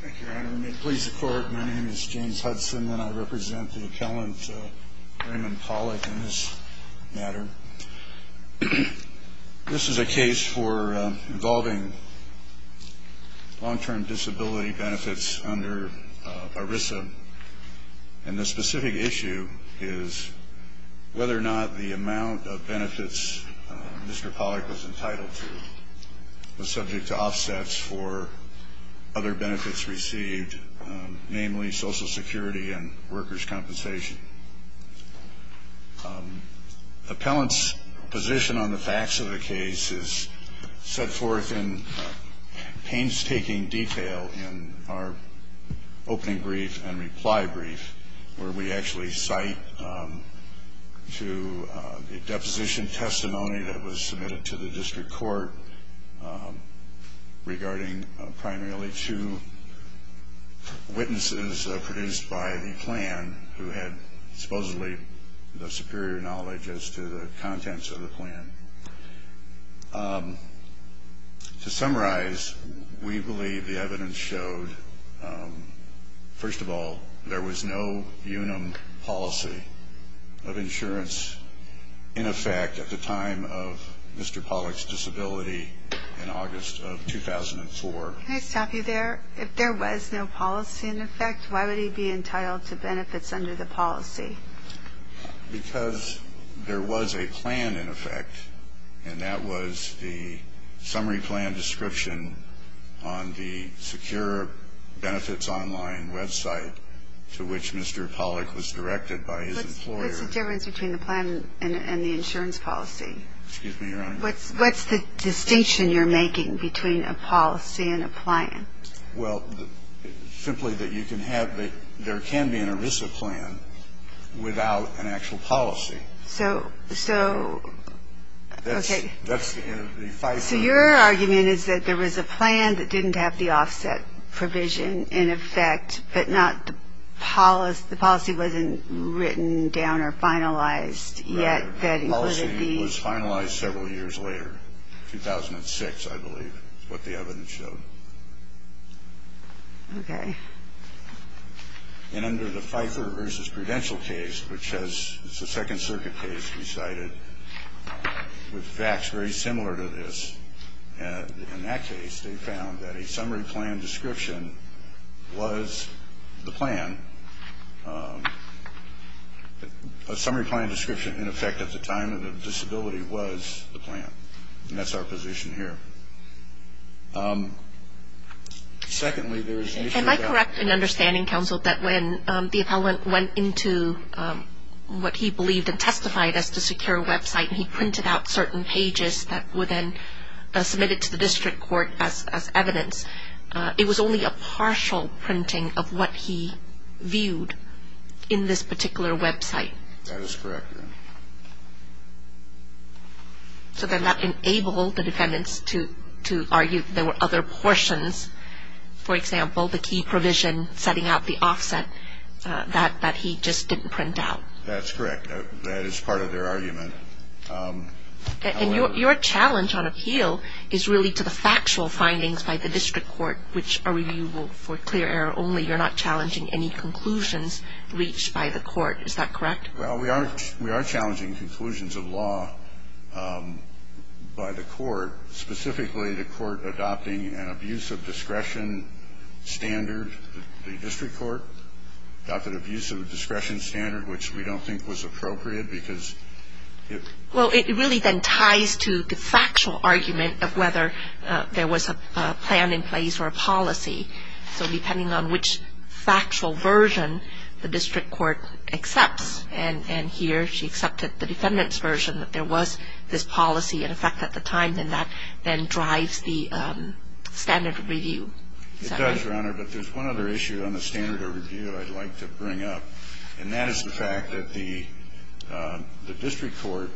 Thank you, your honor. May it please the court, my name is James Hudson and I represent the appellant Raymond Pollock in this matter. This is a case for involving long-term disability benefits under ERISA. And the specific issue is whether or not the amount of benefits Mr. Pollock was entitled to was subject to offsets for other benefits received, namely Social Security and workers' compensation. The appellant's position on the facts of the case is set forth in painstaking detail in our opening brief where we actually cite to the deposition testimony that was submitted to the district court regarding primarily two witnesses produced by the plan who had supposedly the superior knowledge as to the contents of the plan. To summarize, we believe the evidence showed, first of all, there was no unum policy of insurance in effect at the time of Mr. Pollock's disability in August of 2004. Can I stop you there? If there was no policy in effect, why would he be entitled to benefits under the policy? Because there was a plan in effect, and that was the summary plan description on the Secure Benefits Online website to which Mr. Pollock was directed by his employer. What's the difference between the plan and the insurance policy? Excuse me, Your Honor. What's the distinction you're making between a policy and a plan? Well, simply that you can have the – there can be an ERISA plan without an actual policy. So, okay. So your argument is that there was a plan that didn't have the offset provision in effect, but not the policy wasn't written down or finalized yet that included the – Okay. And under the Pfeiffer v. Prudential case, which has – it's a Second Circuit case we cited with facts very similar to this. And in that case, they found that a summary plan description was the plan. A summary plan description in effect at the time of the disability was the plan, and that's our position here. Secondly, there is an issue that – Am I correct in understanding, Counsel, that when the appellant went into what he believed and testified as the secure website and he printed out certain pages that were then submitted to the district court as evidence, it was only a partial printing of what he viewed in this particular website? That is correct, Your Honor. So then that enabled the defendants to argue that there were other portions, for example, the key provision setting out the offset that he just didn't print out. That's correct. That is part of their argument. And your challenge on appeal is really to the factual findings by the district court, which are reviewable for clear error only. You're not challenging any conclusions reached by the court. Is that correct? Well, we are challenging conclusions of law by the court, specifically the court adopting an abuse of discretion standard. The district court adopted abuse of discretion standard, which we don't think was appropriate because it – Well, it really then ties to the factual argument of whether there was a plan in place or a policy. So depending on which factual version the district court accepts, and here she accepted the defendant's version that there was this policy in effect at the time, then that then drives the standard of review. It does, Your Honor, but there's one other issue on the standard of review I'd like to bring up, And that is the fact that the district court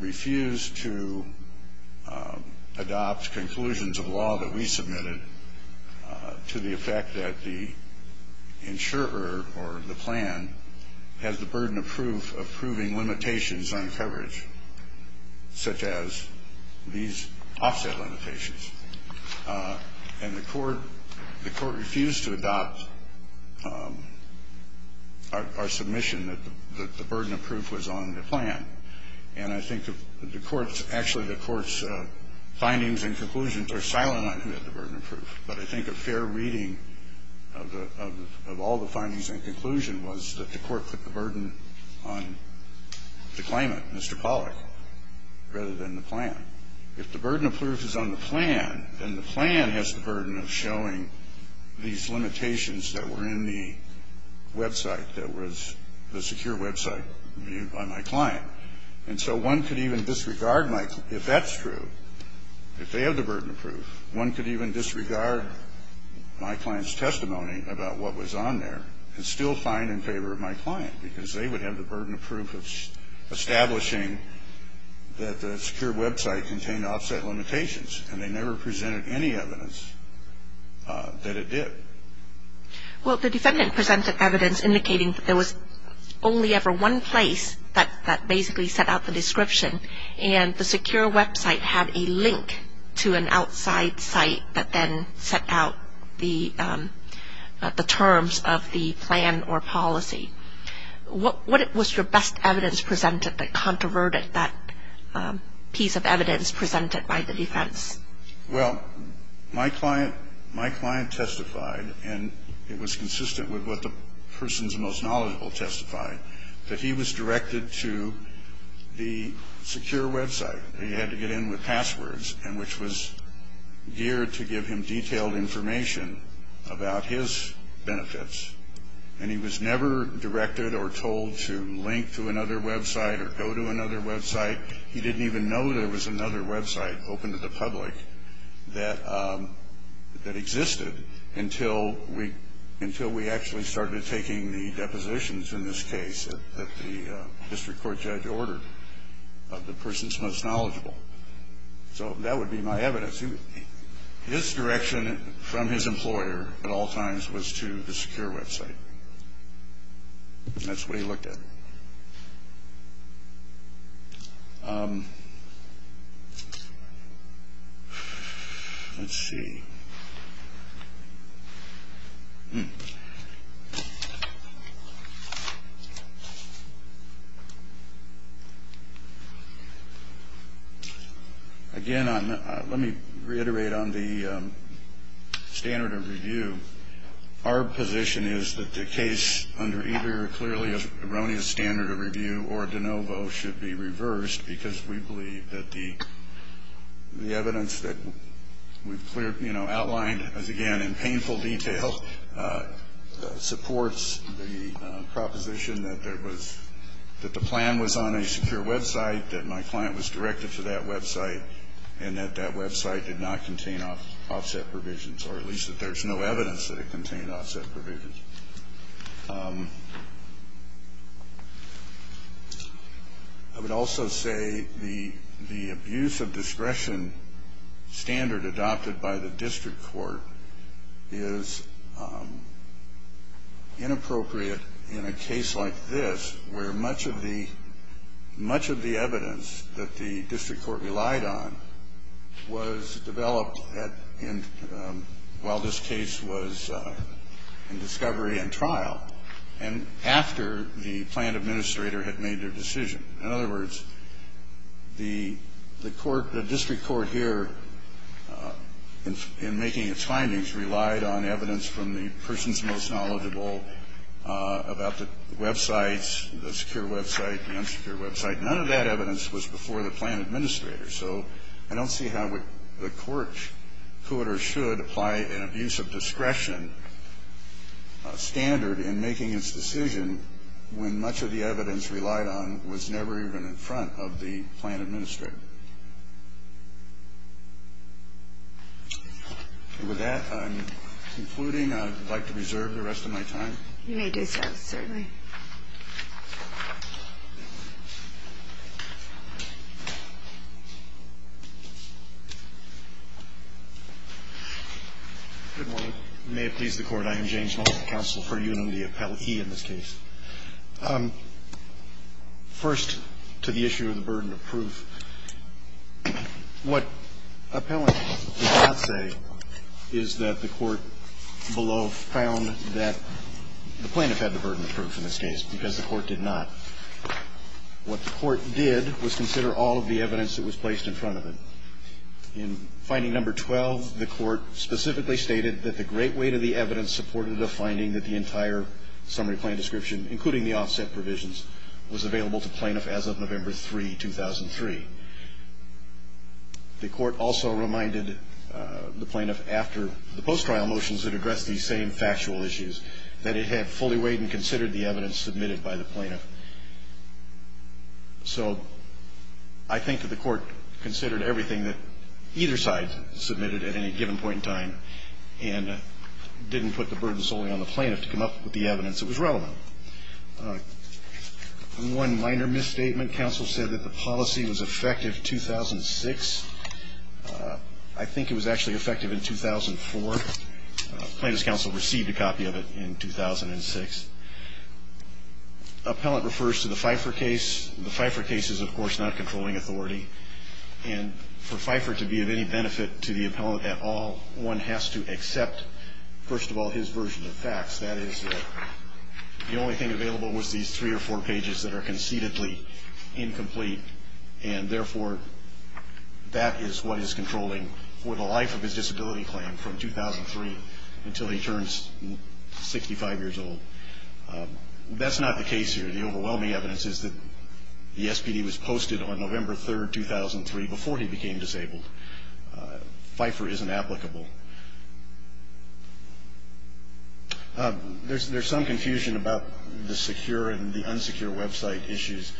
refused to adopt conclusions of law that we submitted to the effect that the insurer or the plan has the burden of proof of proving limitations on coverage, such as these offset limitations. And the court refused to adopt our submission that the burden of proof was on the plan. And I think the court's – actually, the court's findings and conclusions are silent on the burden of proof. But I think a fair reading of all the findings and conclusions was that the court put the burden on the claimant, Mr. Pollack, rather than the plan. If the burden of proof is on the plan, then the plan has the burden of showing these limitations that were in the website that was the secure website reviewed by my client. And so one could even disregard my – if that's true, if they have the burden of proof, one could even disregard my client's testimony about what was on there and still find in favor of my client, because they would have the burden of proof of establishing that the secure website contained offset limitations, and they never presented any evidence that it did. Well, the defendant presented evidence indicating that there was only ever one place that basically set out the description, and the secure website had a link to an outside site that then set out the terms of the plan or policy. What was your best evidence presented that controverted that piece of evidence presented by the defense? Well, my client testified, and it was consistent with what the person's most knowledgeable testified, that he was directed to the secure website. He had to get in with passwords, which was geared to give him detailed information about his benefits. And he was never directed or told to link to another website or go to another website. He didn't even know there was another website open to the public that existed until we actually started taking the depositions in this case that the district court judge ordered of the person's most knowledgeable. So that would be my evidence. His direction from his employer at all times was to the secure website, and that's what he looked at. Let's see. Again, let me reiterate on the standard of review. Our position is that the case under either clearly erroneous standard of review or de novo should be reversed because we believe that the evidence that we've cleared, outlined, as again, in painful detail, supports the proposition that the plan was on a secure website, that my client was directed to that website, and that that website did not contain offset provisions, or at least that there's no evidence that it contained offset provisions. I would also say the abuse of discretion standard adopted by the district court is inappropriate in a case like this, where much of the evidence that the district court relied on was developed while this case was in discovery and trial, and after the plan administrator had made their decision. In other words, the court, the district court here, in making its findings, relied on evidence from the person's most knowledgeable about the websites, the secure website, the unsecure website. None of that evidence was before the plan administrator. So I don't see how the court could or should apply an abuse of discretion standard in making its decision when much of the evidence relied on was never even in front of the plan administrator. With that, I'm concluding. I'd like to reserve the rest of my time. You may do so. Certainly. Good morning. May it please the Court. I am James Mullins, counsel for UNUM, the appellee in this case. First, to the issue of the burden of proof. What appellant did not say is that the court below found that the plaintiff had the burden of proof in this case because the court did not. What the court did was consider all of the evidence that was placed in front of it. In finding number 12, the court specifically stated that the great weight of the evidence supported the finding that the entire summary plan description, including the offset provisions, was available to plaintiff as of November 3, 2003. The court also reminded the plaintiff after the post-trial motions that addressed these same factual issues that it had fully weighed and considered the evidence submitted by the plaintiff. So I think that the court considered everything that either side submitted at any given point in time and didn't put the burden solely on the plaintiff to come up with the evidence that was relevant. One minor misstatement, counsel said that the policy was effective 2006. I think it was actually effective in 2004. Plaintiff's counsel received a copy of it in 2006. Appellant refers to the Pfeiffer case. The Pfeiffer case is, of course, not controlling authority. And for Pfeiffer to be of any benefit to the appellant at all, one has to accept, first of all, his version of facts. That is, the only thing available was these three or four pages that are concededly incomplete, and therefore that is what is controlling for the life of his disability claim from 2003 until he turns 65 years old. That's not the case here. The overwhelming evidence is that the SPD was posted on November 3, 2003, before he became disabled. Pfeiffer isn't applicable. There's some confusion about the secure and the unsecure website issues.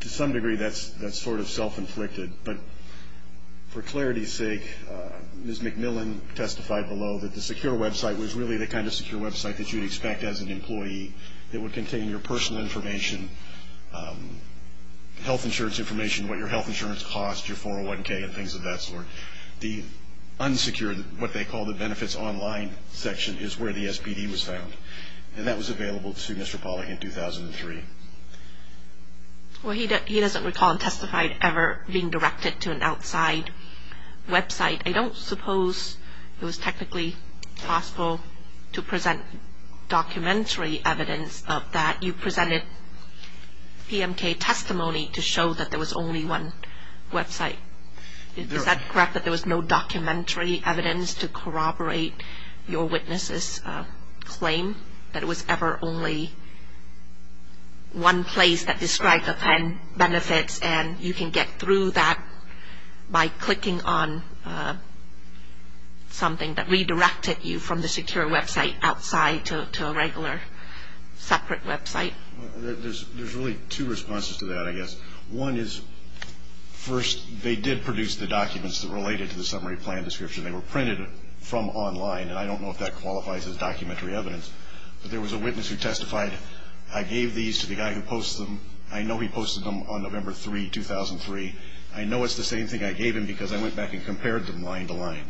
To some degree, that's sort of self-inflicted. But for clarity's sake, Ms. McMillan testified below that the secure website was really the kind of secure website that you'd expect as an employee. It would contain your personal information, health insurance information, what your health insurance costs, your 401K and things of that sort. The unsecure, what they call the benefits online section, is where the SPD was found. And that was available to Mr. Pollack in 2003. Well, he doesn't recall and testified ever being directed to an outside website. I don't suppose it was technically possible to present documentary evidence of that. You presented PMK testimony to show that there was only one website. Is that correct, that there was no documentary evidence to corroborate your witness' claim, that it was ever only one place that described the benefits, and you can get through that by clicking on something that redirected you from the secure website outside to a regular separate website? There's really two responses to that, I guess. One is, first, they did produce the documents that related to the summary plan description. They were printed from online, and I don't know if that qualifies as documentary evidence. But there was a witness who testified, I gave these to the guy who posts them. I know he posted them on November 3, 2003. I know it's the same thing I gave him because I went back and compared them line to line.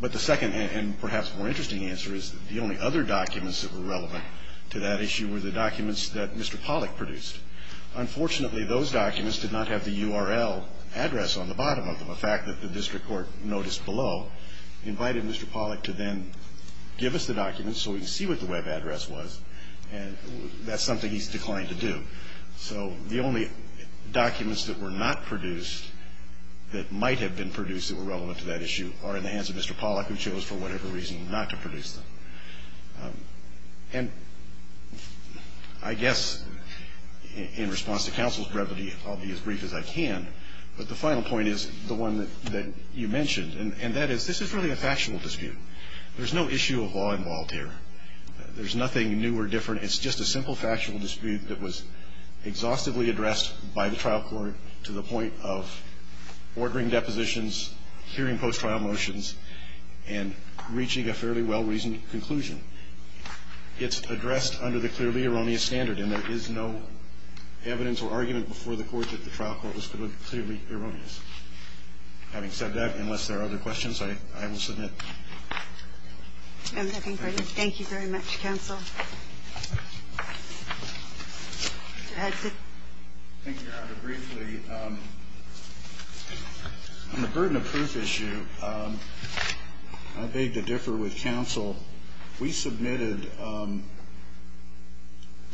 But the second and perhaps more interesting answer is that the only other documents that were relevant to that issue were the documents that Mr. Pollack produced. Unfortunately, those documents did not have the URL address on the bottom of them. The fact that the district court noticed below invited Mr. Pollack to then give us the documents so we could see what the web address was, and that's something he's declined to do. So the only documents that were not produced that might have been produced that were relevant to that issue are in the hands of Mr. Pollack, who chose for whatever reason not to produce them. And I guess in response to counsel's brevity, I'll be as brief as I can, but the final point is the one that you mentioned, and that is this is really a factual dispute. There's no issue of law involved here. There's nothing new or different. It's just a simple factual dispute that was exhaustively addressed by the trial court to the point of ordering depositions, hearing post-trial motions, and reaching a fairly well-reasoned conclusion. It's addressed under the clearly erroneous standard, and there is no evidence or argument before the court that the trial court was clearly erroneous. Having said that, unless there are other questions, I will submit. Thank you very much, counsel. Thank you, Your Honor. Briefly, on the burden of proof issue, I beg to differ with counsel. We submitted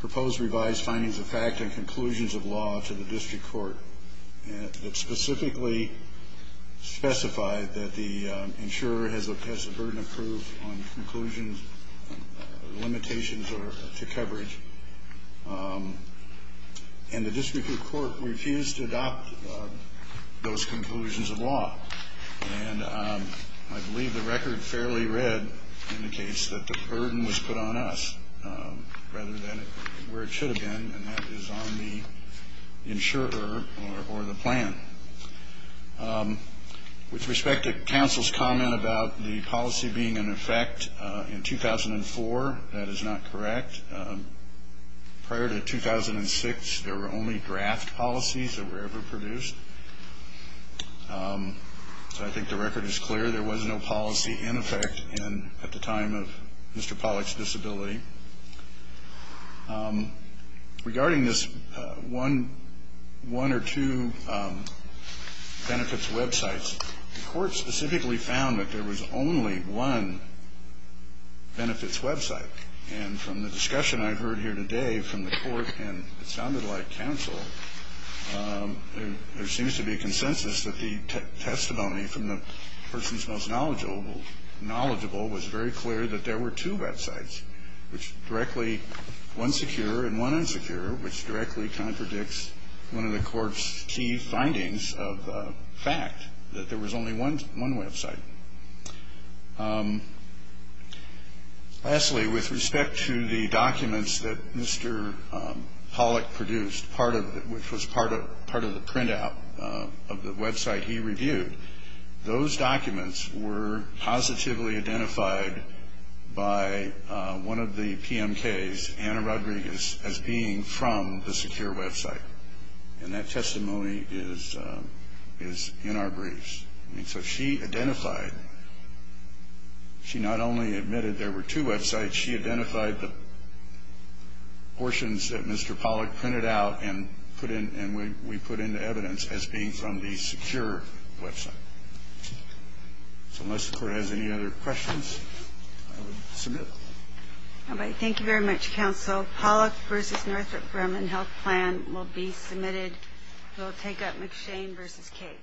proposed revised findings of fact and conclusions of law to the district court that specifically specified that the insurer has a burden of proof on conclusions or limitations to coverage, and the district court refused to adopt those conclusions of law. And I believe the record fairly read indicates that the burden was put on us rather than where it should have been, and that is on the insurer or the plan. With respect to counsel's comment about the policy being in effect in 2004, that is not correct. Prior to 2006, there were only draft policies that were ever produced. So I think the record is clear. There was no policy in effect at the time of Mr. Pollack's disability. Regarding this one or two benefits websites, the court specifically found that there was only one benefits website. And from the discussion I heard here today from the court, and it sounded like counsel, there seems to be a consensus that the testimony from the person's most knowledgeable was very clear that there were two websites. Which directly, one secure and one insecure, which directly contradicts one of the court's key findings of fact, that there was only one website. Lastly, with respect to the documents that Mr. Pollack produced, which was part of the printout of the website he reviewed, those documents were positively identified by one of the PMKs, Anna Rodriguez, as being from the secure website. And that testimony is in our briefs. And so she identified, she not only admitted there were two websites, but she identified the portions that Mr. Pollack printed out and we put into evidence as being from the secure website. So unless the court has any other questions, I will submit. All right. Thank you very much, counsel. Pollack v. Northrop Grumman Health Plan will be submitted. We'll take up McShane v. Cate.